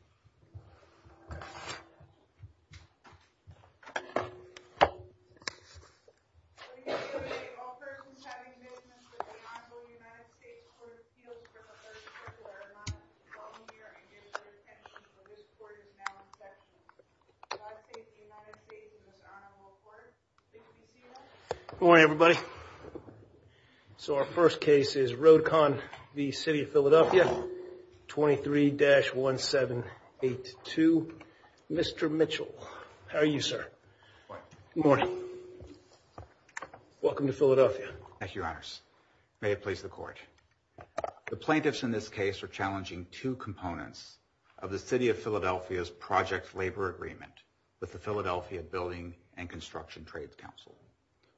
The City of Philadelphia is a city in the Philadelphia area of Philadelphia, California, United States. Philadelphia is a city in the Philadelphia area of Philadelphia, California, United States. Philadelphia is a city in the Philadelphia area of Philadelphia, California, United States. Philadelphia is a city in the Philadelphia area of Philadelphia, California, United States. The United States Court of Appeals for the first particular amendment is now in session. The United States and His Honor will report. Good morning, everybody. So our first case is Road Con v. City of Philadelphia, 23-1782. Mr. Mitchell, how are you, sir? Good morning. Good morning. Welcome to Philadelphia. Thank you, Your Honors. May it please the Court. The plaintiffs in this case are challenging two components of the City of Philadelphia's project labor agreement with the Philadelphia Building and Construction Trades Council.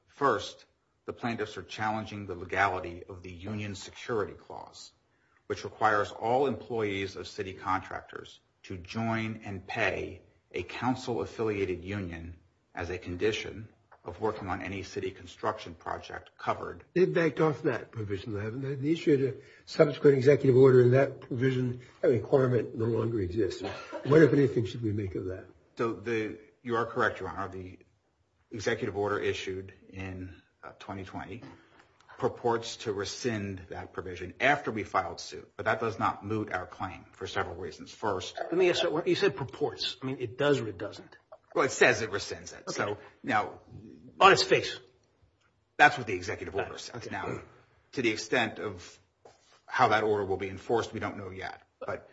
First, the plaintiffs are challenging the legality of the Union Security Clause, which requires all employees of city contractors to join and pay a council-affiliated union as a condition of working on any city construction project covered. They've backed off that provision. They issued a subsequent executive order, and that provision requirement no longer exists. What, if anything, should we make of that? You are correct, Your Honor. The executive order issued in 2020 purports to rescind that provision after we filed suit, but that does not moot our claim for several reasons. First— You said purports. I mean, it does or it doesn't. Well, it says it rescinds it. Okay. Now— On its face. That's what the executive order says now. To the extent of how that order will be enforced, we don't know yet. But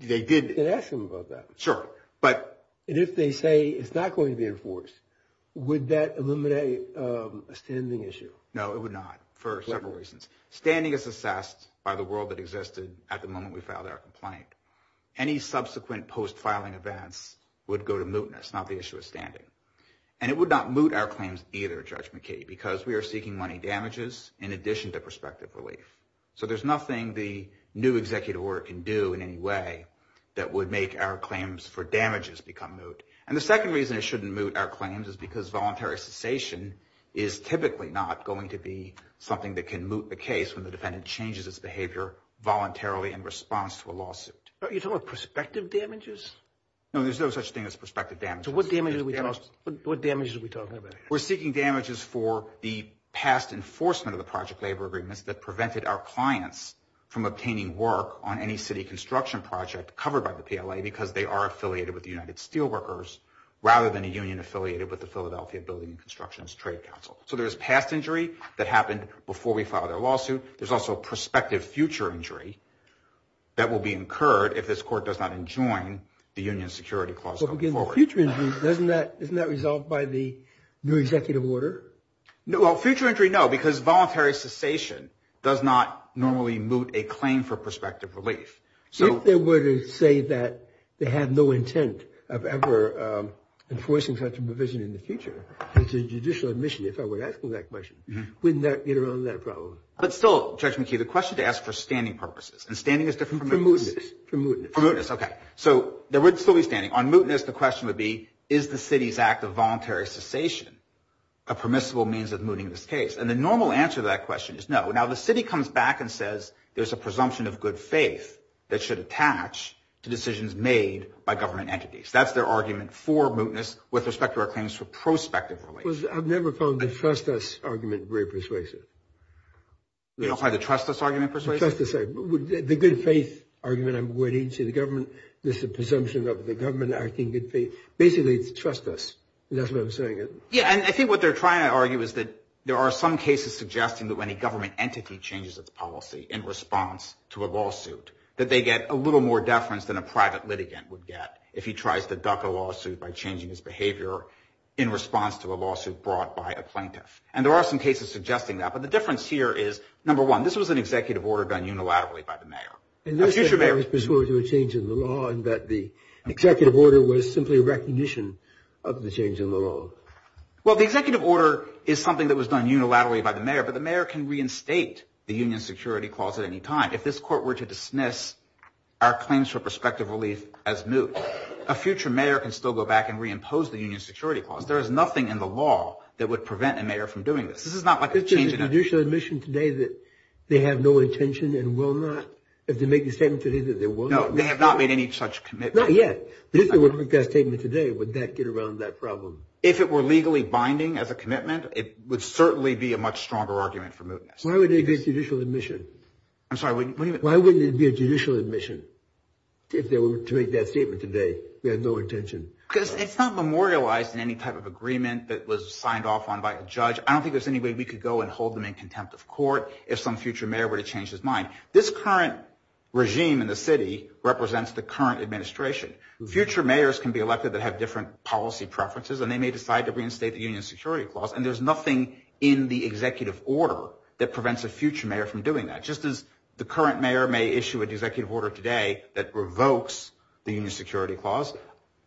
they did— You can ask them about that. Sure, but— And if they say it's not going to be enforced, would that eliminate a standing issue? No, it would not for several reasons. Standing is assessed by the world that existed at the moment we filed our complaint. Any subsequent post-filing events would go to mootness, not the issue of standing. And it would not moot our claims either, Judge McKee, because we are seeking money damages in addition to prospective relief. So there's nothing the new executive order can do in any way that would make our claims for damages become moot. And the second reason it shouldn't moot our claims is because voluntary cessation is typically not going to be something that can moot the case when the defendant changes its behavior voluntarily in response to a lawsuit. Are you talking about prospective damages? No, there's no such thing as prospective damages. So what damages are we talking about? We're seeking damages for the past enforcement of the project labor agreements that prevented our clients from obtaining work on any city construction project covered by the PLA because they are affiliated with the United Steelworkers rather than a union affiliated with the Philadelphia Building and Construction Trade Council. So there's past injury that happened before we filed our lawsuit. There's also prospective future injury that will be incurred if this court does not enjoin the union security clause going forward. So future injury, isn't that resolved by the new executive order? Well, future injury, no, because voluntary cessation does not normally moot a claim for prospective relief. If they were to say that they had no intent of ever enforcing such a provision in the future, it's a judicial admission if I were asking that question, wouldn't that get around that problem? But still, Judge McKee, the question to ask for standing purposes, and standing is different from mootness. For mootness. For mootness, okay. So there would still be standing. On mootness, the question would be is the city's act of voluntary cessation a permissible means of mooting this case? And the normal answer to that question is no. Now, the city comes back and says there's a presumption of good faith that should attach to decisions made by government entities. That's their argument for mootness with respect to our claims for prospective relief. I've never found the trust us argument very persuasive. You don't find the trust us argument persuasive? The good faith argument I'm going into, the government, there's a presumption of the government acting in good faith. Basically, it's trust us. That's what I'm saying. Yeah, and I think what they're trying to argue is that there are some cases suggesting that when a government entity changes its policy in response to a lawsuit, that they get a little more deference than a private litigant would get if he tries to duck a lawsuit by changing his behavior in response to a lawsuit brought by a plaintiff. And there are some cases suggesting that. But the difference here is, number one, this was an executive order done unilaterally by the mayor. Unless it was pursuant to a change in the law and that the executive order was simply a recognition of the change in the law. Well, the executive order is something that was done unilaterally by the mayor, but the mayor can reinstate the union security clause at any time. If this court were to dismiss our claims for prospective relief as moot, a future mayor can still go back and reimpose the union security clause. There is nothing in the law that would prevent a mayor from doing this. This is not like a change. If there was a judicial admission today that they have no intention and will not, if they make the statement today that they will not. No, they have not made any such commitment. Not yet. If there were to make that statement today, would that get around that problem? If it were legally binding as a commitment, it would certainly be a much stronger argument for mootness. Why wouldn't it be a judicial admission? I'm sorry, what do you mean? Why wouldn't it be a judicial admission if they were to make that statement today, they have no intention? Because it's not memorialized in any type of agreement that was signed off on by a judge. I don't think there's any way we could go and hold them in contempt of court if some future mayor were to change his mind. This current regime in the city represents the current administration. Future mayors can be elected that have different policy preferences, and they may decide to reinstate the union security clause. And there's nothing in the executive order that prevents a future mayor from doing that. Just as the current mayor may issue an executive order today that revokes the union security clause,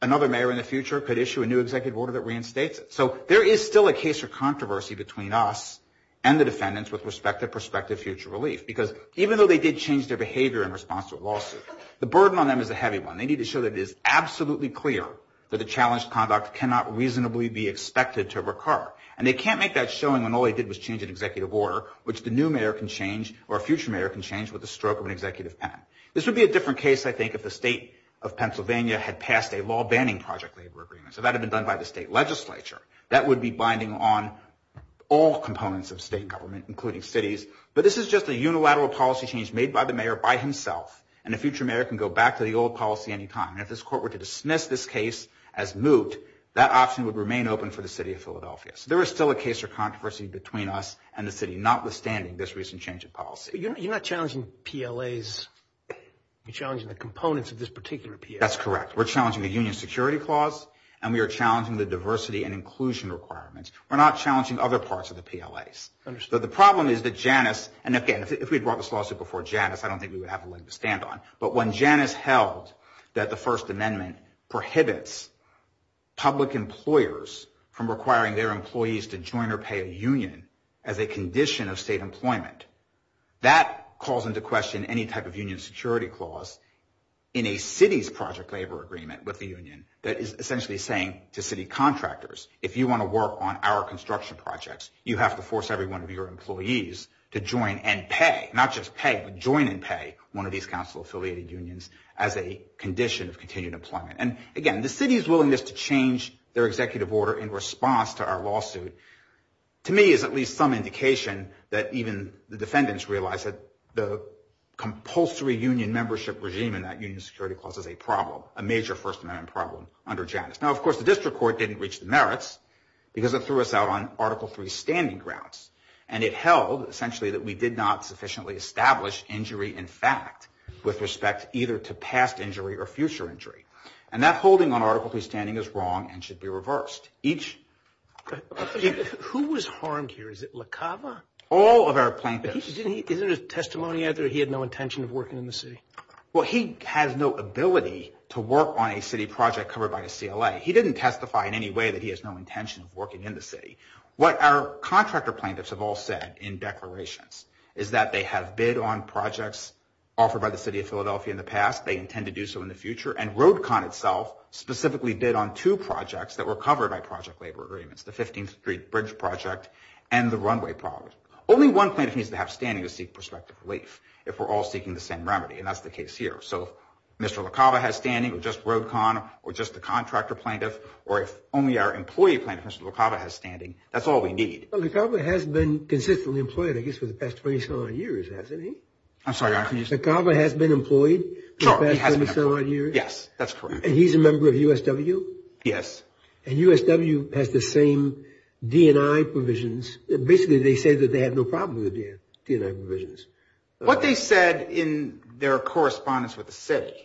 another mayor in the future could issue a new executive order that reinstates it. So there is still a case for controversy between us and the defendants with respect to prospective future relief. Because even though they did change their behavior in response to a lawsuit, the burden on them is a heavy one. They need to show that it is absolutely clear that the challenged conduct cannot reasonably be expected to recur. And they can't make that showing when all they did was change an executive order, which the new mayor can change or a future mayor can change with the stroke of an executive pen. This would be a different case, I think, if the state of Pennsylvania had passed a law banning project labor agreement. So that would have been done by the state legislature. That would be binding on all components of state government, including cities. But this is just a unilateral policy change made by the mayor by himself. And a future mayor can go back to the old policy any time. And if this court were to dismiss this case as moot, that option would remain open for the city of Philadelphia. So there is still a case for controversy between us and the city, notwithstanding this recent change of policy. You're not challenging PLAs. You're challenging the components of this particular PLA. That's correct. We're challenging the union security clause, and we are challenging the diversity and inclusion requirements. We're not challenging other parts of the PLAs. So the problem is that Janus, and again, if we had brought this lawsuit before Janus, I don't think we would have a leg to stand on. But when Janus held that the First Amendment prohibits public employers from requiring their employees to join or pay a union as a condition of state employment, that calls into question any type of union security clause in a city's project labor agreement with the union that is essentially saying to city contractors, if you want to work on our construction projects, you have to force every one of your employees to join and pay. Not just pay, but join and pay one of these council-affiliated unions as a condition of continued employment. And again, the city's willingness to change their executive order in response to our lawsuit, to me, is at least some indication that even the defendants realize that the compulsory union membership regime in that union security clause is a problem, a major First Amendment problem under Janus. Now, of course, the district court didn't reach the merits because it threw us out on Article III standing grounds. And it held, essentially, that we did not sufficiently establish injury in fact with respect either to past injury or future injury. And that holding on Article III standing is wrong and should be reversed. Each... Who was harmed here? Is it LaCava? All of our plaintiffs. Isn't there a testimony out there that he had no intention of working in the city? Well, he has no ability to work on a city project covered by a CLA. He didn't testify in any way that he has no intention of working in the city. What our contractor plaintiffs have all said in declarations is that they have bid on projects offered by the city of Philadelphia in the past. They intend to do so in the future. And RoadCon itself specifically bid on two projects that were covered by project labor agreements, the 15th Street Bridge Project and the runway project. Only one plaintiff needs to have standing to seek prospective relief if we're all seeking the same remedy. And that's the case here. So if Mr. LaCava has standing, or just RoadCon, or just the contractor plaintiff, or if only our employee plaintiff, Mr. LaCava, has standing, that's all we need. Well, LaCava has been consistently employed, I guess, for the past 27 odd years, hasn't he? I'm sorry, Your Honor. LaCava has been employed for the past 27 odd years? Yes, that's correct. And he's a member of USW? Yes. And USW has the same D&I provisions. Basically, they say that they have no problem with the D&I provisions. What they said in their correspondence with the city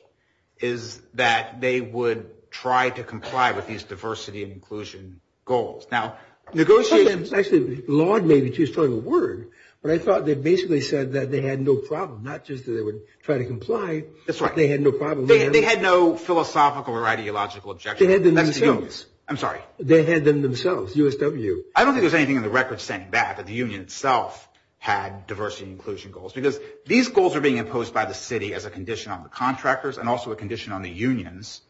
is that they would try to comply with these diversity and inclusion goals. Now, negotiations – Actually, Lord may be too strong a word, but I thought they basically said that they had no problem, not just that they would try to comply. That's right. They had no problem. They had no philosophical or ideological objection. They had them themselves. I'm sorry. They had them themselves, USW. I don't think there's anything in the record saying that, that the union itself had diversity and inclusion goals, because these goals are being imposed by the city as a condition on the contractors and also a condition on the unions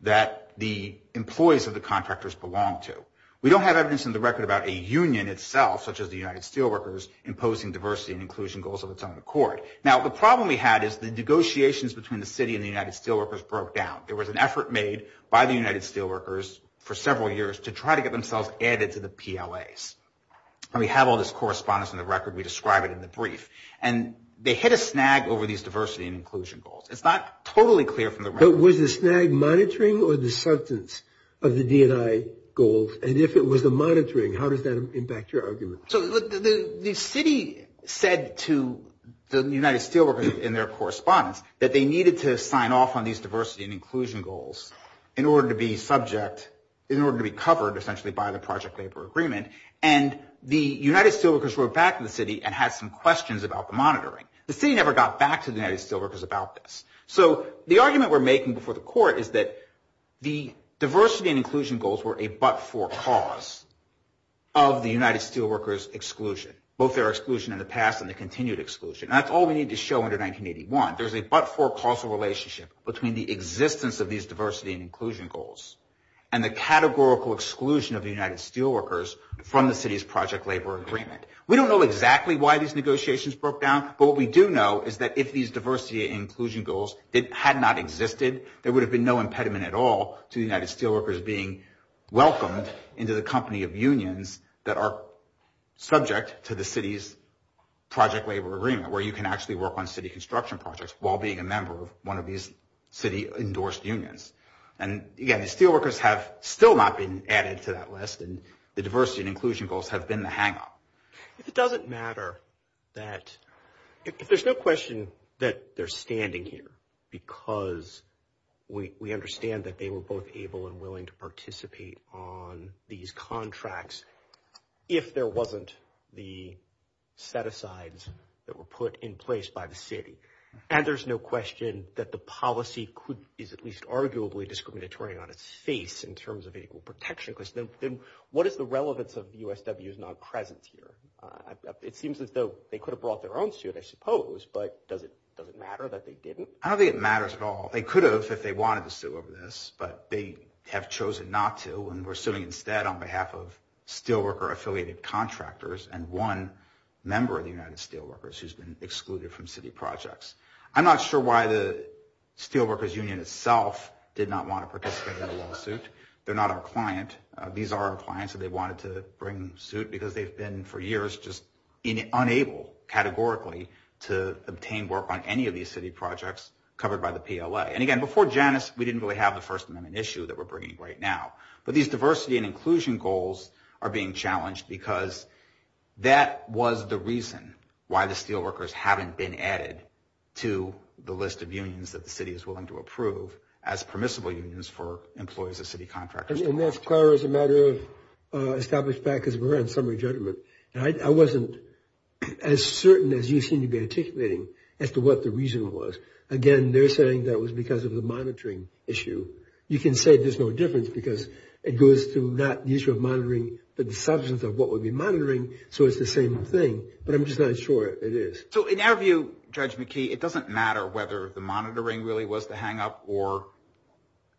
that the employees of the contractors belong to. We don't have evidence in the record about a union itself, such as the United Steelworkers, imposing diversity and inclusion goals of its own accord. Now, the problem we had is the negotiations between the city and the United Steelworkers broke down. There was an effort made by the United Steelworkers for several years to try to get themselves added to the PLAs. And we have all this correspondence in the record. We describe it in the brief. And they hit a snag over these diversity and inclusion goals. It's not totally clear from the record. But was the snag monitoring or the substance of the D&I goals? And if it was the monitoring, how does that impact your argument? So the city said to the United Steelworkers in their correspondence that they needed to sign off on these diversity and inclusion goals in order to be subject, in order to be covered, essentially, by the project labor agreement. And the United Steelworkers wrote back to the city and had some questions about the monitoring. The city never got back to the United Steelworkers about this. So the argument we're making before the court is that the diversity and inclusion goals were a but-for cause of the United Steelworkers' exclusion, both their exclusion in the past and the continued exclusion. And that's all we need to show under 1981. There's a but-for-cause relationship between the existence of these diversity and inclusion goals and the categorical exclusion of the United Steelworkers from the city's project labor agreement. We don't know exactly why these negotiations broke down. But what we do know is that if these diversity and inclusion goals had not existed, there would have been no impediment at all to the United Steelworkers being welcomed into the company of unions that are subject to the city's project labor agreement, where you can actually work on city construction projects while being a member of one of these city-endorsed unions. And, again, the Steelworkers have still not been added to that list, and the diversity and inclusion goals have been the hang-up. If it doesn't matter that – if there's no question that they're standing here because we understand that they were both able and willing to participate on these contracts if there wasn't the set-asides that were put in place by the city, and there's no question that the policy could – is at least arguably discriminatory on its face in terms of equal protection, then what is the relevance of the USW's non-presence here? It seems as though they could have brought their own suit, I suppose, but does it matter that they didn't? I don't think it matters at all. They could have if they wanted to sue over this, but they have chosen not to, and we're suing instead on behalf of Steelworker-affiliated contractors and one member of the United Steelworkers who's been excluded from city projects. I'm not sure why the Steelworkers Union itself did not want to participate in the lawsuit. They're not our client. These are our clients that they wanted to bring suit because they've been for years just unable, categorically, to obtain work on any of these city projects covered by the PLA. And again, before Janus, we didn't really have the First Amendment issue that we're bringing right now, but these diversity and inclusion goals are being challenged because that was the reason why the Steelworkers haven't been added to the list of unions that the city is willing to approve as permissible unions for employees of city contractors. And that's clear as a matter of established fact, because we're on summary judgment, and I wasn't as certain as you seem to be articulating as to what the reason was. Again, they're saying that it was because of the monitoring issue. You can say there's no difference because it goes to not the issue of monitoring, but the substance of what would be monitoring, so it's the same thing, but I'm just not sure it is. So in our view, Judge McKee, it doesn't matter whether the monitoring really was the hang-up or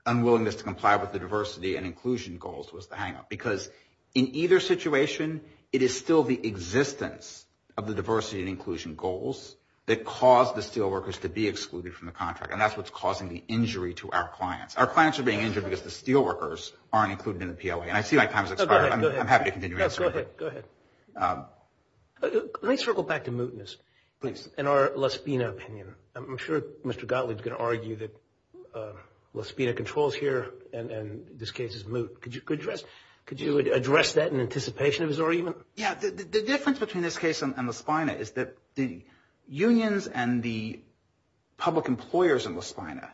unwillingness to comply with the diversity and inclusion goals was the hang-up, because in either situation, it is still the existence of the diversity and inclusion goals that caused the Steelworkers to be excluded from the contract, and that's what's causing the injury to our clients. Our clients are being injured because the Steelworkers aren't included in the PLA. And I see my time has expired. I'm happy to continue answering. Go ahead. Go ahead. Let me circle back to mootness in our La Spina opinion. I'm sure Mr. Gottlieb is going to argue that La Spina controls here and this case is moot. Could you address that in anticipation of his argument? Yeah. The difference between this case and La Spina is that the unions and the public employers in La Spina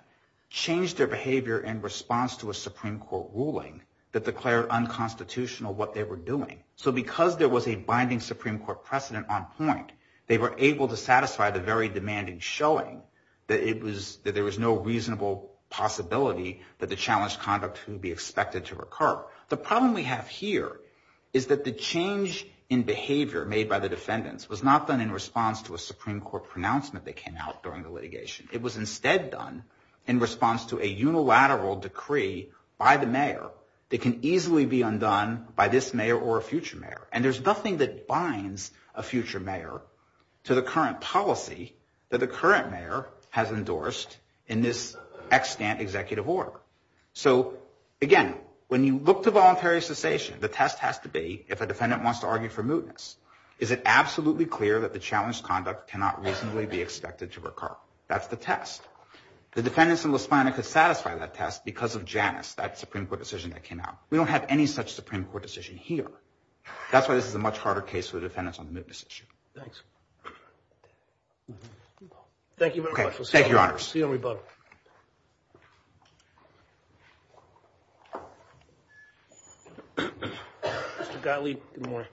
changed their behavior in response to a Supreme Court ruling that declared unconstitutional what they were doing. So because there was a binding Supreme Court precedent on point, they were able to satisfy the very demanding showing that there was no reasonable possibility that the challenged conduct would be expected to recur. The problem we have here is that the change in behavior made by the defendants was not done in response to a Supreme Court pronouncement that came out during the litigation. It was instead done in response to a unilateral decree by the mayor that can easily be undone by this mayor or a future mayor, and there's nothing that binds a future mayor to the current policy that the current mayor has endorsed in this extant executive order. So, again, when you look to voluntary cessation, the test has to be if a defendant wants to argue for mootness, is it absolutely clear that the challenged conduct cannot reasonably be expected to recur? That's the test. The defendants in La Spina could satisfy that test because of Janus, that Supreme Court decision that came out. We don't have any such Supreme Court decision here. That's why this is a much harder case for the defendants on the mootness issue. Thanks. Thank you very much. Thank you, Your Honors. See you on rebuttal. Mr. Gottlieb, good morning.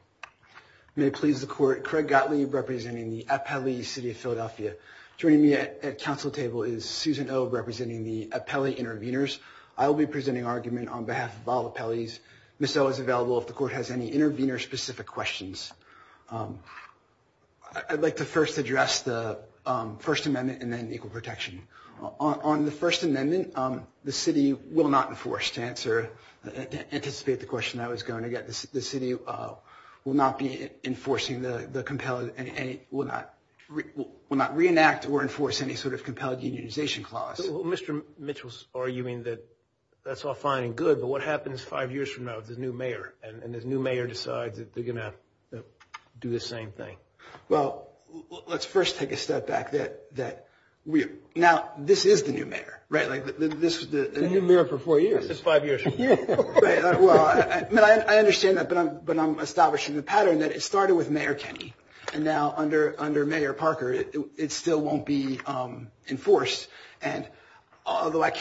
May it please the Court, Craig Gottlieb, representing the Appalachee City of Philadelphia, joining me at council table is Susan Obe representing the Appellee Interveners. I will be presenting argument on behalf of all the appellees. Ms. Obe is available if the Court has any intervener-specific questions. I'd like to first address the First Amendment and then equal protection. On the First Amendment, the city will not enforce, to answer, to anticipate the question I was going to get, the city will not be enforcing the compelled, will not reenact or enforce any sort of compelled unionization clause. Mr. Mitchell's arguing that that's all fine and good, but what happens five years from now with the new mayor and this new mayor decides that they're going to do the same thing? Well, let's first take a step back. Now, this is the new mayor, right? The new mayor for four years. This is five years from now. I understand that, but I'm establishing the pattern that it started with Mayor Kenney and now under Mayor Parker it still won't be enforced. Although I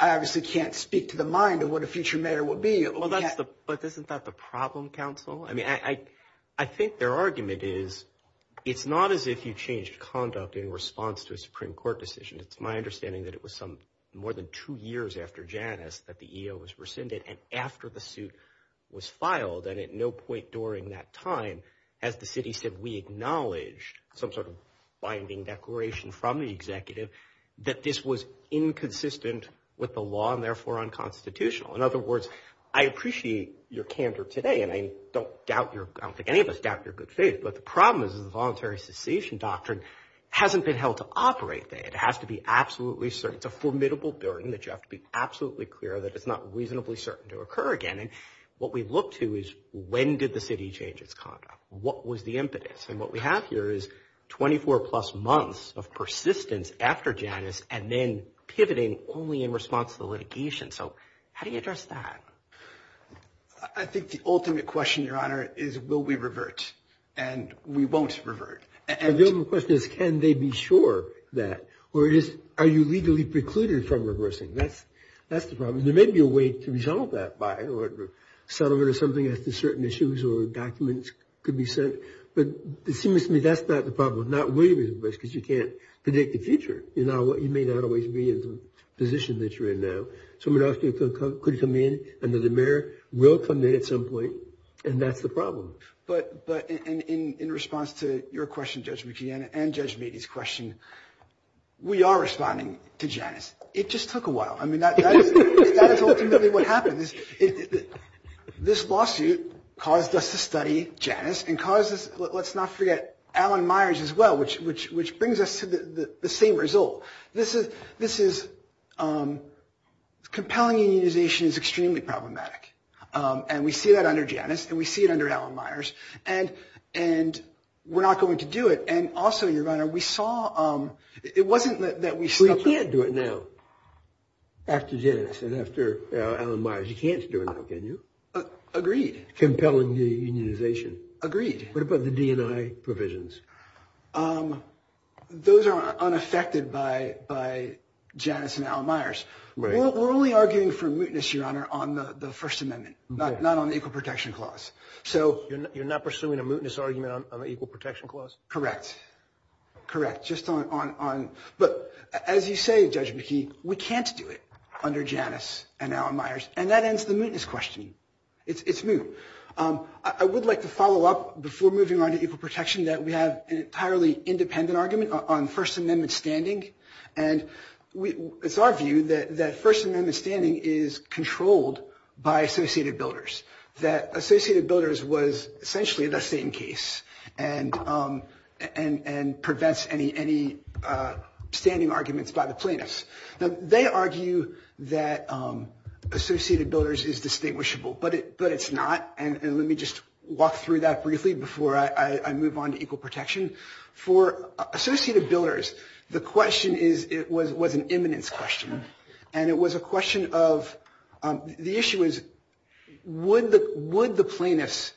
obviously can't speak to the mind of what a future mayor will be. But isn't that the problem, counsel? I think their argument is it's not as if you changed conduct in response to a Supreme Court decision. It's my understanding that it was more than two years after Janice that the EO was rescinded and after the suit was filed, and at no point during that time, as the city said, we acknowledged some sort of binding declaration from the executive that this was inconsistent with the law and therefore unconstitutional. In other words, I appreciate your candor today, and I don't think any of us doubt your good faith, but the problem is the voluntary cessation doctrine hasn't been held to operate. It has to be absolutely certain. It's a formidable burden that you have to be absolutely clear that it's not reasonably certain to occur again. And what we look to is when did the city change its conduct? What was the impetus? And what we have here is 24-plus months of persistence after Janice and then pivoting only in response to the litigation. So how do you address that? I think the ultimate question, Your Honor, is will we revert? And we won't revert. The ultimate question is can they be sure that? Or are you legally precluded from reversing? That's the problem. There may be a way to resolve that by a settlement or something as to certain issues or documents could be sent. But it seems to me that's not the problem. Not really, because you can't predict the future. You may not always be in the position that you're in now. Someone else could come in under the mayor, will come in at some point, and that's the problem. But in response to your question, Judge McKeon, and Judge Beatty's question, we are responding to Janice. It just took a while. I mean, that is ultimately what happened. This lawsuit caused us to study Janice and caused us, let's not forget, Alan Myers as well, which brings us to the same result. This is compelling unionization is extremely problematic. And we see that under Janice and we see it under Alan Myers. And we're not going to do it. And also, Your Honor, we saw it wasn't that we stopped. We can't do it now after Janice and after Alan Myers. You can't do it now, can you? Agreed. Compelling unionization. Agreed. What about the DNI provisions? Those are unaffected by Janice and Alan Myers. We're only arguing for mootness, Your Honor, on the First Amendment, not on the Equal Protection Clause. You're not pursuing a mootness argument on the Equal Protection Clause? Correct. Correct. But as you say, Judge McKeon, we can't do it under Janice and Alan Myers. And that ends the mootness question. It's moot. I would like to follow up before moving on to equal protection that we have an entirely independent argument on First Amendment standing. And it's our view that First Amendment standing is controlled by Associated Builders, that Associated Builders was essentially the same case and prevents any standing arguments by the plaintiffs. Now, they argue that Associated Builders is distinguishable, but it's not. And let me just walk through that briefly before I move on to equal protection. For Associated Builders, the question was an imminence question, and it was a question of the issue is would the plaintiffs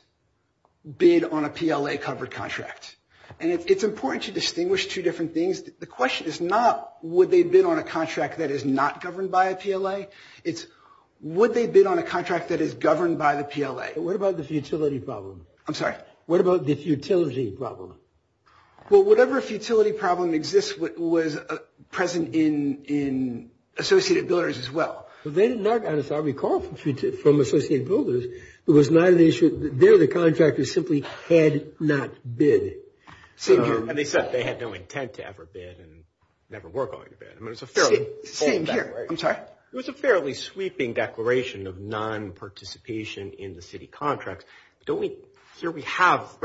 bid on a PLA-covered contract? And it's important to distinguish two different things. The question is not would they bid on a contract that is not governed by a PLA. It's would they bid on a contract that is governed by the PLA. What about the futility problem? I'm sorry? What about the futility problem? Well, whatever futility problem exists was present in Associated Builders as well. They did not, as I recall from Associated Builders, there the contractors simply had not bid. And they said they had no intent to ever bid and never were going to bid. Same here. I'm sorry? It was a fairly sweeping declaration of non-participation in the city contracts. Here we have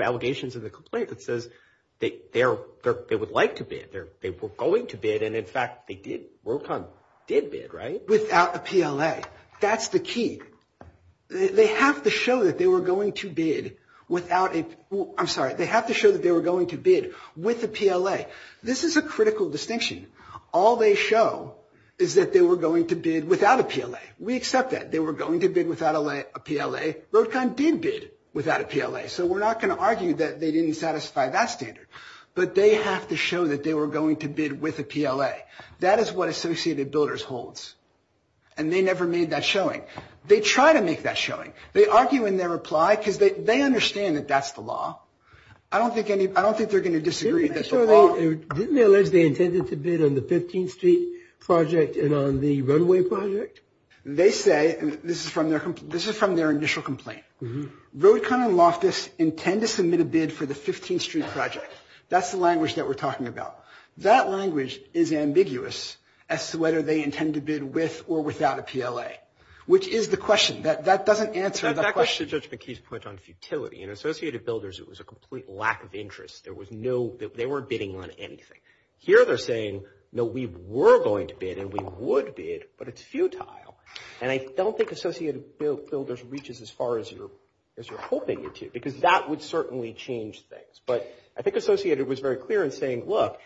allegations in the complaint that says they would like to bid, they were going to bid, and, in fact, RoadCon did bid, right? Without a PLA. That's the key. They have to show that they were going to bid with a PLA. This is a critical distinction. All they show is that they were going to bid without a PLA. We accept that. They were going to bid without a PLA. RoadCon did bid without a PLA, so we're not going to argue that they didn't satisfy that standard. But they have to show that they were going to bid with a PLA. That is what Associated Builders holds, and they never made that showing. They try to make that showing. They argue in their reply because they understand that that's the law. I don't think they're going to disagree. Didn't they allege they intended to bid on the 15th Street project and on the runway project? They say, and this is from their initial complaint, RoadCon and Loftus intend to submit a bid for the 15th Street project. That's the language that we're talking about. That language is ambiguous as to whether they intend to bid with or without a PLA, which is the question. That doesn't answer the question. Back to Judge McKee's point on futility. In Associated Builders, it was a complete lack of interest. They weren't bidding on anything. Here they're saying, no, we were going to bid and we would bid, but it's futile. And I don't think Associated Builders reaches as far as you're hoping it to because that would certainly change things. But I think Associated was very clear in saying, look,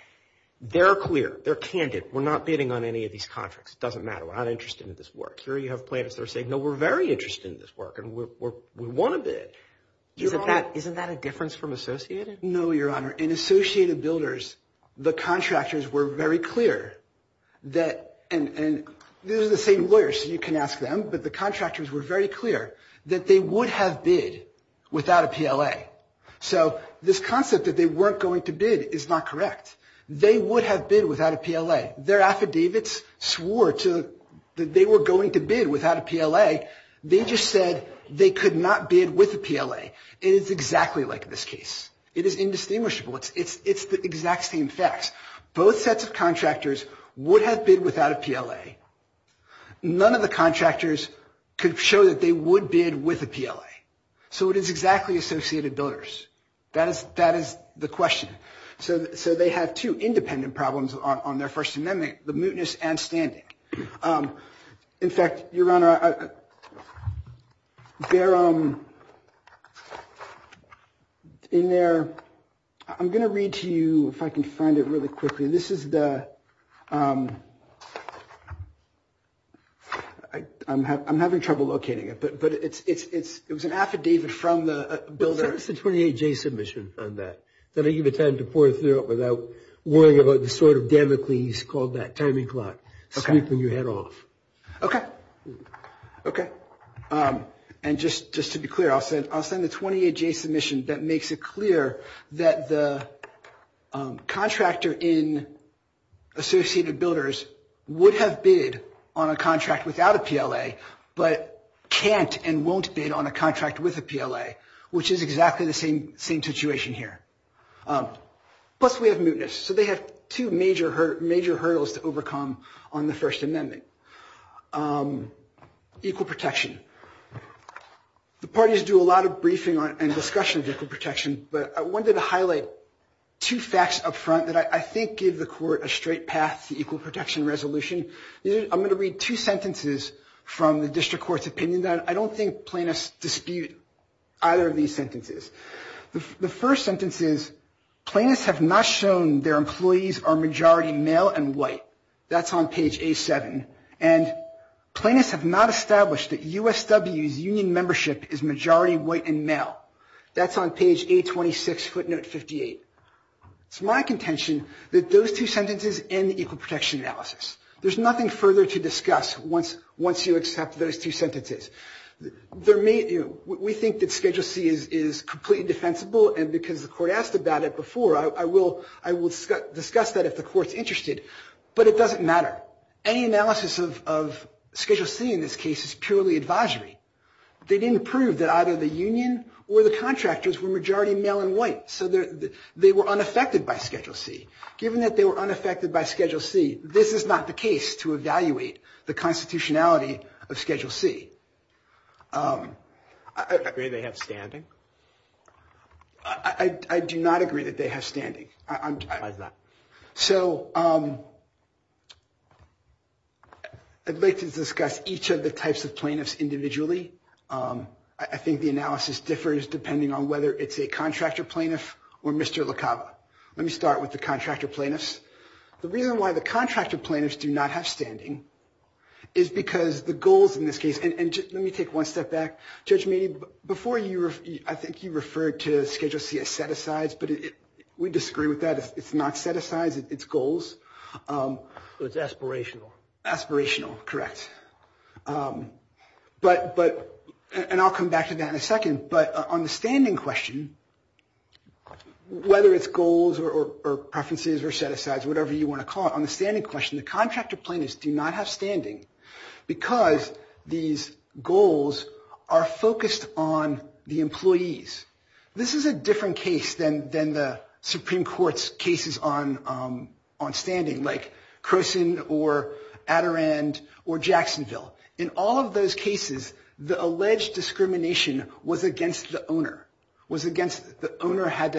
they're clear. They're candid. We're not bidding on any of these contracts. It doesn't matter. We're not interested in this work. Here you have plaintiffs that are saying, no, we're very interested in this work, and we want to bid. Isn't that a difference from Associated? No, Your Honor. In Associated Builders, the contractors were very clear that they would have bid without a PLA. So this concept that they weren't going to bid is not correct. They would have bid without a PLA. Their affidavits swore that they were going to bid without a PLA. They just said they could not bid with a PLA. It is exactly like this case. It is indistinguishable. It's the exact same facts. Both sets of contractors would have bid without a PLA. None of the contractors could show that they would bid with a PLA. So it is exactly Associated Builders. That is the question. So they have two independent problems on their First Amendment, the mootness and standing. In fact, Your Honor, in there, I'm going to read to you, if I can find it really quickly. This is the ‑‑ I'm having trouble locating it. But it was an affidavit from the builder. It's the 28J submission on that. Then I give it time to pour it through without worrying about the sort of damocles called that timing clock, sweeping your head off. Okay. Okay. And just to be clear, I'll send the 28J submission that makes it clear that the contractor in Associated Builders would have bid on a contract without a PLA, but can't and won't bid on a contract with a PLA, which is exactly the same situation here. Plus we have mootness. So they have two major hurdles to overcome on the First Amendment. Equal protection. The parties do a lot of briefing and discussion of equal protection, but I wanted to highlight two facts up front that I think give the court a straight path to equal protection resolution. I'm going to read two sentences from the district court's opinion. And I don't think plaintiffs dispute either of these sentences. The first sentence is, plaintiffs have not shown their employees are majority male and white. That's on page A7. And plaintiffs have not established that USW's union membership is majority white and male. That's on page A26, footnote 58. It's my contention that those two sentences end equal protection analysis. There's nothing further to discuss once you accept those two sentences. We think that Schedule C is completely defensible, and because the court asked about it before, I will discuss that if the court's interested. But it doesn't matter. Any analysis of Schedule C in this case is purely advisory. They didn't prove that either the union or the contractors were majority male and white. So they were unaffected by Schedule C. Given that they were unaffected by Schedule C, this is not the case to evaluate the constitutionality of Schedule C. Do you agree they have standing? I do not agree that they have standing. Why is that? So I'd like to discuss each of the types of plaintiffs individually. I think the analysis differs depending on whether it's a contractor plaintiff or Mr. LaCava. Let me start with the contractor plaintiffs. The reason why the contractor plaintiffs do not have standing is because the goals in this case and let me take one step back. Judge Meaney, before you, I think you referred to Schedule C as set-asides, but we disagree with that. It's not set-asides. It's goals. It's aspirational. Aspirational, correct. And I'll come back to that in a second. But on the standing question, whether it's goals or preferences or set-asides, whatever you want to call it, on the standing question, the contractor plaintiffs do not have standing because these goals are focused on the employees. This is a different case than the Supreme Court's cases on standing, like Croson or Adirond or Jacksonville. In all of those cases, the alleged discrimination was against the owner. The owner had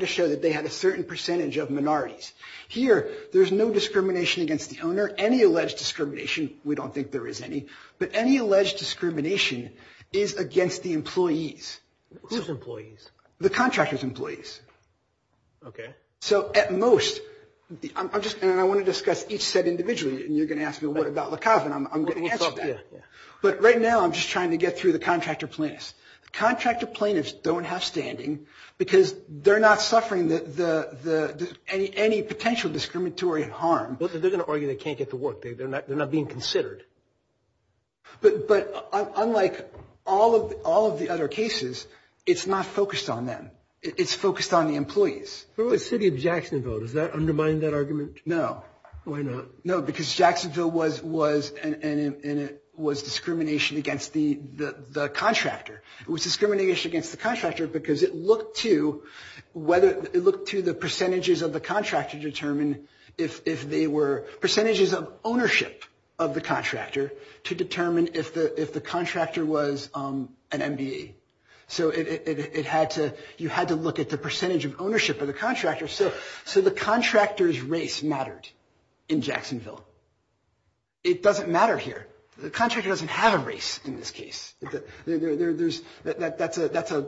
to show that they had a certain percentage of minorities. Here, there's no discrimination against the owner. Any alleged discrimination, we don't think there is any, but any alleged discrimination is against the employees. Who's employees? The contractor's employees. Okay. So at most, and I want to discuss each set individually, and you're going to ask me what about La Cava, and I'm going to answer that. But right now, I'm just trying to get through the contractor plaintiffs. The contractor plaintiffs don't have standing because they're not suffering any potential discriminatory harm. But they're going to argue they can't get the work. They're not being considered. But unlike all of the other cases, it's not focused on them. It's focused on the employees. For the city of Jacksonville, does that undermine that argument? No. Why not? No, because Jacksonville was discrimination against the contractor. It was discrimination against the contractor because it looked to the percentages of the contractor to determine if they were percentages of ownership of the contractor to determine if the contractor was an MBE. So you had to look at the percentage of ownership of the contractor. So the contractor's race mattered in Jacksonville. It doesn't matter here. The contractor doesn't have a race in this case. That's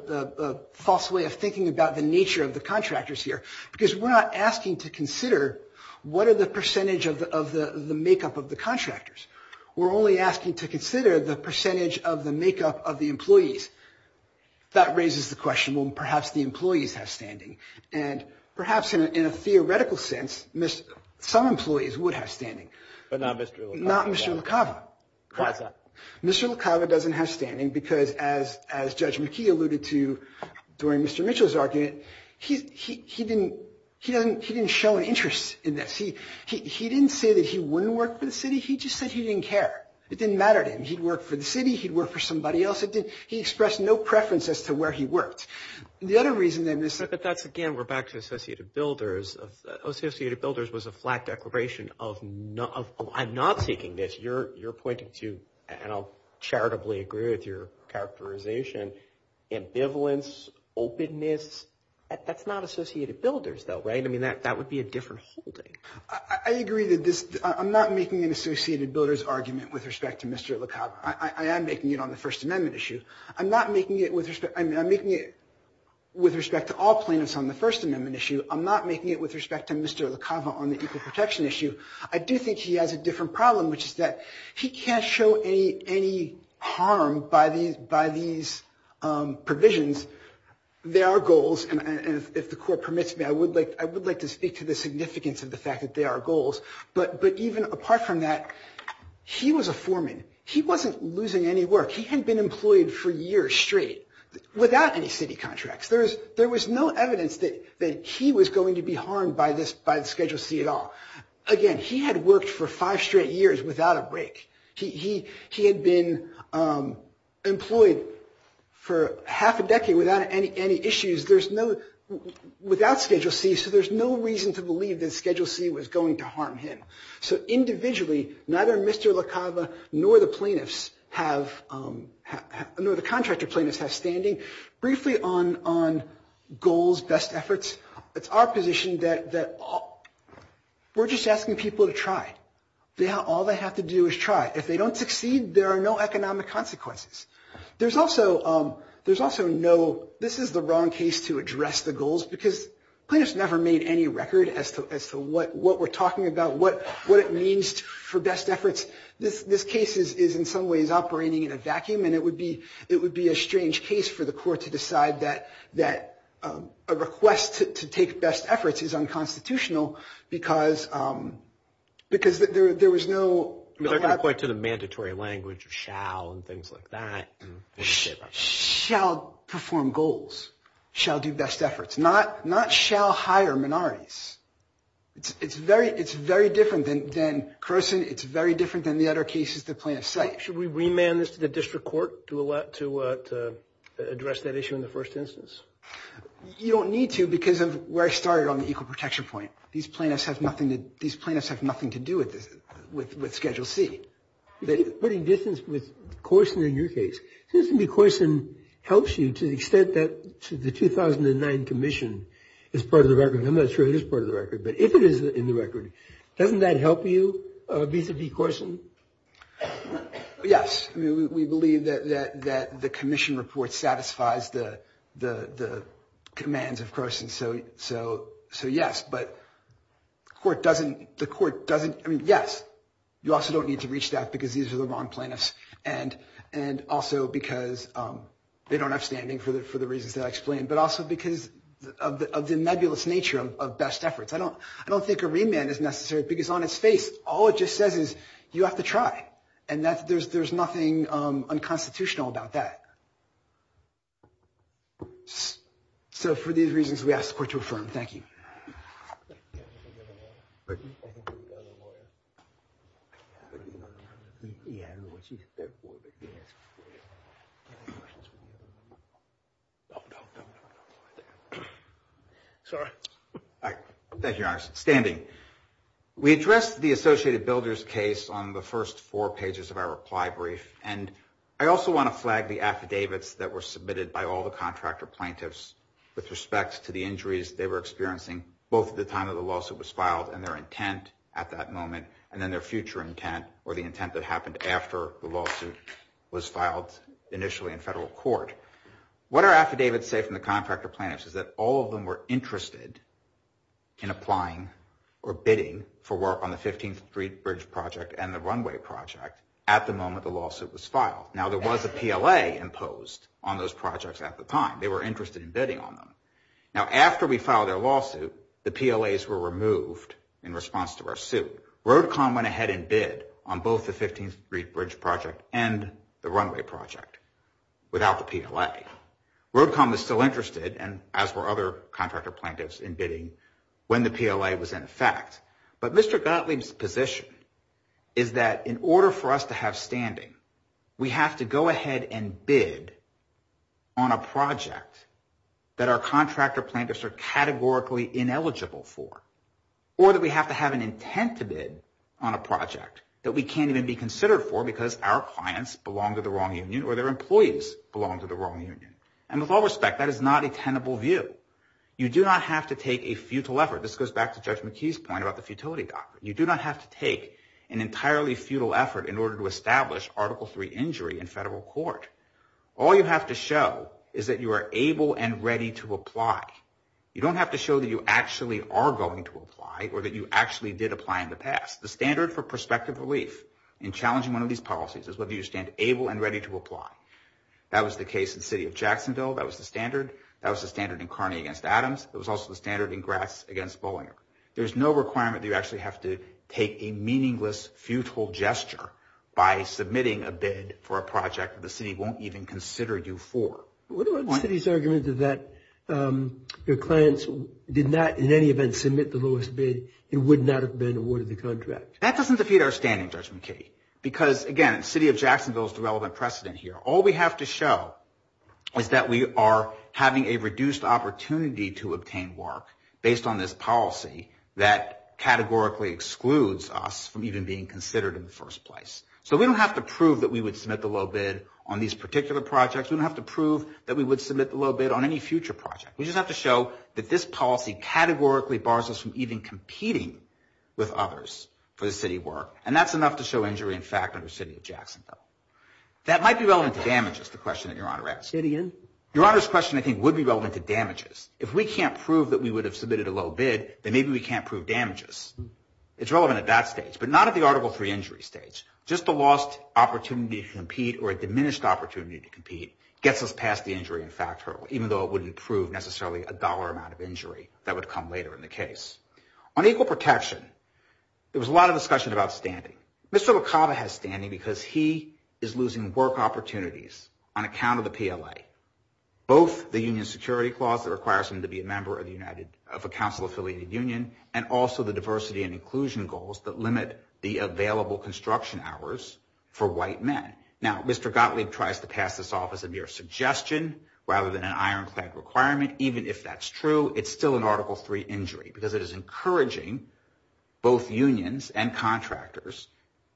a false way of thinking about the nature of the contractors here because we're not asking to consider what are the percentage of the makeup of the contractors. We're only asking to consider the percentage of the makeup of the employees. That raises the question, well, perhaps the employees have standing. And perhaps in a theoretical sense, some employees would have standing. But not Mr. LaCava. Not Mr. LaCava. Why is that? Mr. LaCava doesn't have standing because, as Judge McKee alluded to during Mr. Mitchell's argument, he didn't show an interest in this. He didn't say that he wouldn't work for the city. He just said he didn't care. It didn't matter to him. He'd work for the city. He'd work for somebody else. He expressed no preference as to where he worked. The other reason, then, is – But that's, again, we're back to Associated Builders. Associated Builders was a flat declaration of I'm not seeking this. You're pointing to, and I'll charitably agree with your characterization, ambivalence, openness. That's not Associated Builders, though, right? I mean, that would be a different holding. I agree that this – I'm not making an Associated Builders argument with respect to Mr. LaCava. I am making it on the First Amendment issue. I'm not making it with respect – I'm making it with respect to all plaintiffs on the First Amendment issue. I'm not making it with respect to Mr. LaCava on the equal protection issue. I do think he has a different problem, which is that he can't show any harm by these provisions. There are goals, and if the Court permits me, I would like to speak to the significance of the fact that there are goals. But even apart from that, he was a foreman. He wasn't losing any work. He had been employed for years straight without any city contracts. There was no evidence that he was going to be harmed by this – by Schedule C at all. Again, he had worked for five straight years without a break. He had been employed for half a decade without any issues. There's no – without Schedule C, so there's no reason to believe that Schedule C was going to harm him. So individually, neither Mr. LaCava nor the plaintiffs have – nor the contractor plaintiffs have standing. Briefly on goals, best efforts, it's our position that we're just asking people to try. All they have to do is try. If they don't succeed, there are no economic consequences. There's also no – this is the wrong case to address the goals, because plaintiffs never made any record as to what we're talking about, what it means for best efforts. This case is in some ways operating in a vacuum, and it would be a strange case for the court to decide that a request to take best efforts is unconstitutional, because there was no – They're going to point to the mandatory language of shall and things like that. Shall perform goals. Shall do best efforts. Not shall hire minorities. It's very different than – Carson, it's very different than the other cases the plaintiffs cite. Should we remand this to the district court to address that issue in the first instance? You don't need to, because of where I started on the equal protection point. These plaintiffs have nothing to do with Schedule C. Putting distance with Carson in your case, it seems to me Carson helps you to the extent that the 2009 commission is part of the record. I'm not sure it is part of the record, but if it is in the record, doesn't that help you vis-a-vis Carson? Yes. We believe that the commission report satisfies the commands of Carson, so yes. But the court doesn't – I mean, yes. You also don't need to reach that because these are the wrong plaintiffs and also because they don't have standing for the reasons that I explained, but also because of the nebulous nature of best efforts. I don't think a remand is necessary because on its face, all it just says is you have to try, and there's nothing unconstitutional about that. So for these reasons, we ask the court to affirm. Thank you. Any other questions? Sorry. All right. Thank you, Your Honor. Standing. We addressed the Associated Builders case on the first four pages of our reply brief, and I also want to flag the affidavits that were submitted by all the contractor plaintiffs with respect to the injuries they were experiencing both at the time that the lawsuit was filed and their intent at that moment, and then their future intent or the intent that happened after the lawsuit was filed initially in federal court. What our affidavits say from the contractor plaintiffs is that all of them were interested in applying or bidding for work on the 15th Street Bridge Project and the runway project at the moment the lawsuit was filed. Now, there was a PLA imposed on those projects at the time. They were interested in bidding on them. Now, after we filed their lawsuit, the PLAs were removed in response to our suit. Roadcom went ahead and bid on both the 15th Street Bridge Project and the runway project without the PLA. Roadcom was still interested, as were other contractor plaintiffs, in bidding when the PLA was in effect. But Mr. Gottlieb's position is that in order for us to have standing, we have to go ahead and bid on a project that our contractor plaintiffs are categorically ineligible for or that we have to have an intent to bid on a project that we can't even be considered for because our clients belong to the wrong union or their employees belong to the wrong union. And with all respect, that is not a tenable view. You do not have to take a futile effort. This goes back to Judge McKee's point about the futility doctrine. You do not have to take an entirely futile effort in order to establish Article III injury in federal court. All you have to show is that you are able and ready to apply. You don't have to show that you actually are going to apply or that you actually did apply in the past. The standard for prospective relief in challenging one of these policies is whether you stand able and ready to apply. That was the case in the city of Jacksonville. That was the standard. That was the standard in Kearney against Adams. It was also the standard in Gratz against Bollinger. There's no requirement that you actually have to take a meaningless, futile gesture by submitting a bid for a project that the city won't even consider you for. What about the city's argument that their clients did not in any event submit the lowest bid and would not have been awarded the contract? That doesn't defeat our standing, Judge McKee, because, again, the city of Jacksonville is the relevant precedent here. All we have to show is that we are having a reduced opportunity to obtain work based on this policy that categorically excludes us from even being considered in the first place. So we don't have to prove that we would submit the low bid on these particular projects. We don't have to prove that we would submit the low bid on any future project. We just have to show that this policy categorically bars us from even competing with others for the city work, and that's enough to show injury in fact under the city of Jacksonville. That might be relevant to damages, the question that Your Honor asked. Your Honor's question, I think, would be relevant to damages. If we can't prove that we would have submitted a low bid, then maybe we can't prove damages. It's relevant at that stage, but not at the Article III injury stage. Just a lost opportunity to compete or a diminished opportunity to compete gets us past the injury in fact hurdle, even though it wouldn't prove necessarily a dollar amount of injury that would come later in the case. On equal protection, there was a lot of discussion about standing. Mr. LaCava has standing because he is losing work opportunities on account of the PLA, both the union security clause that requires him to be a member of a council-affiliated union and also the diversity and inclusion goals that limit the available construction hours for white men. Now, Mr. Gottlieb tries to pass this off as a mere suggestion rather than an ironclad requirement. Even if that's true, it's still an Article III injury because it is encouraging both unions and contractors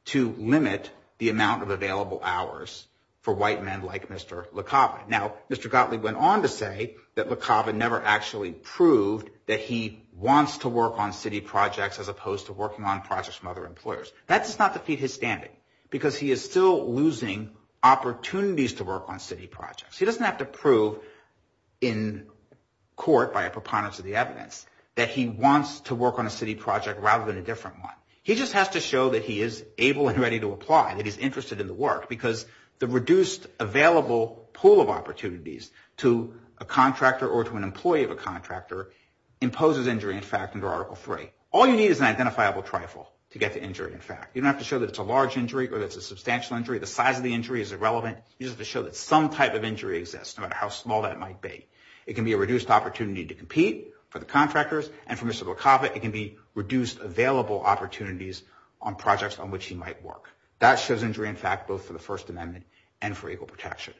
to limit the amount of available hours for white men like Mr. LaCava. Now, Mr. Gottlieb went on to say that LaCava never actually proved that he wants to work on city projects as opposed to working on projects from other employers. That does not defeat his standing because he is still losing opportunities to work on city projects. He doesn't have to prove in court by a preponderance of the evidence that he wants to work on a city project rather than a different one. He just has to show that he is able and ready to apply, that he's interested in the work because the reduced available pool of opportunities to a contractor or to an employee of a contractor imposes injury in fact under Article III. All you need is an identifiable trifle to get the injury in fact. You don't have to show that it's a large injury or that it's a substantial injury. The size of the injury is irrelevant. You just have to show that some type of injury exists no matter how small that might be. It can be a reduced opportunity to compete for the contractors and for Mr. LaCava, it can be reduced available opportunities on projects on which he might work. That shows injury in fact both for the First Amendment and for equal protection.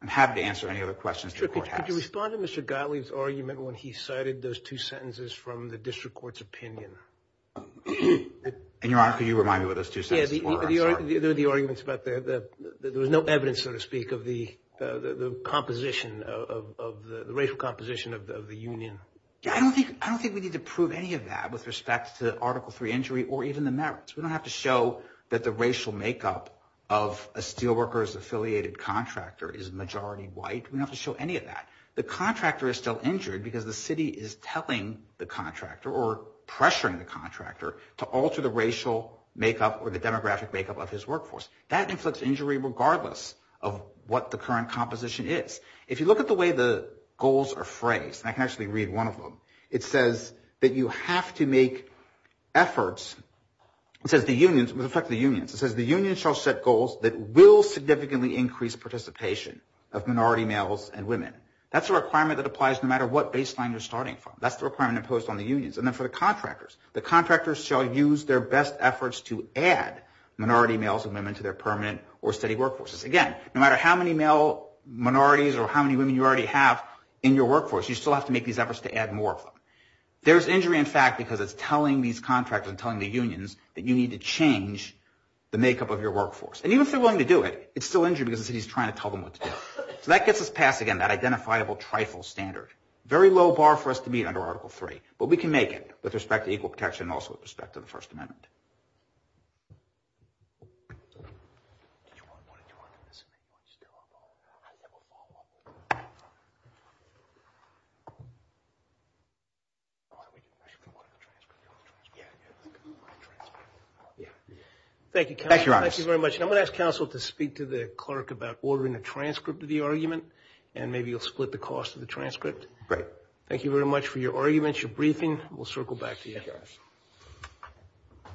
I'm happy to answer any other questions the Court has. Could you respond to Mr. Gottlieb's argument when he cited those two sentences from the District Court's opinion? And, Your Honor, could you remind me what those two sentences were? They were the arguments about there was no evidence, so to speak, of the composition, of the racial composition of the union. I don't think we need to prove any of that with respect to Article III injury or even the merits. We don't have to show that the racial makeup of a steelworkers-affiliated contractor is majority white. We don't have to show any of that. The contractor is still injured because the city is telling the contractor or pressuring the contractor to alter the racial makeup or the demographic makeup of his workforce. That inflicts injury regardless of what the current composition is. If you look at the way the goals are phrased, and I can actually read one of them, it says that you have to make efforts, it says the unions, with respect to the unions, it says the unions shall set goals that will significantly increase participation of minority males and women. That's a requirement that applies no matter what baseline you're starting from. That's the requirement imposed on the unions. And then for the contractors, the contractors shall use their best efforts to add minority males and women to their permanent or steady workforces. Again, no matter how many male minorities or how many women you already have in your workforce, you still have to make these efforts to add more of them. There's injury, in fact, because it's telling these contractors and telling the unions that you need to change the makeup of your workforce. And even if they're willing to do it, it's still injury because the city is trying to tell them what to do. So that gets us past, again, that identifiable trifle standard. Very low bar for us to meet under Article III, but we can make it with respect to equal protection and also with respect to the First Amendment. Thank you, counsel. Thank you very much. And I'm going to ask counsel to speak to the clerk about ordering a transcript of the argument and maybe you'll split the cost of the transcript. Great. Thank you very much for your arguments, your briefing. We'll circle back to you. Thank you, guys.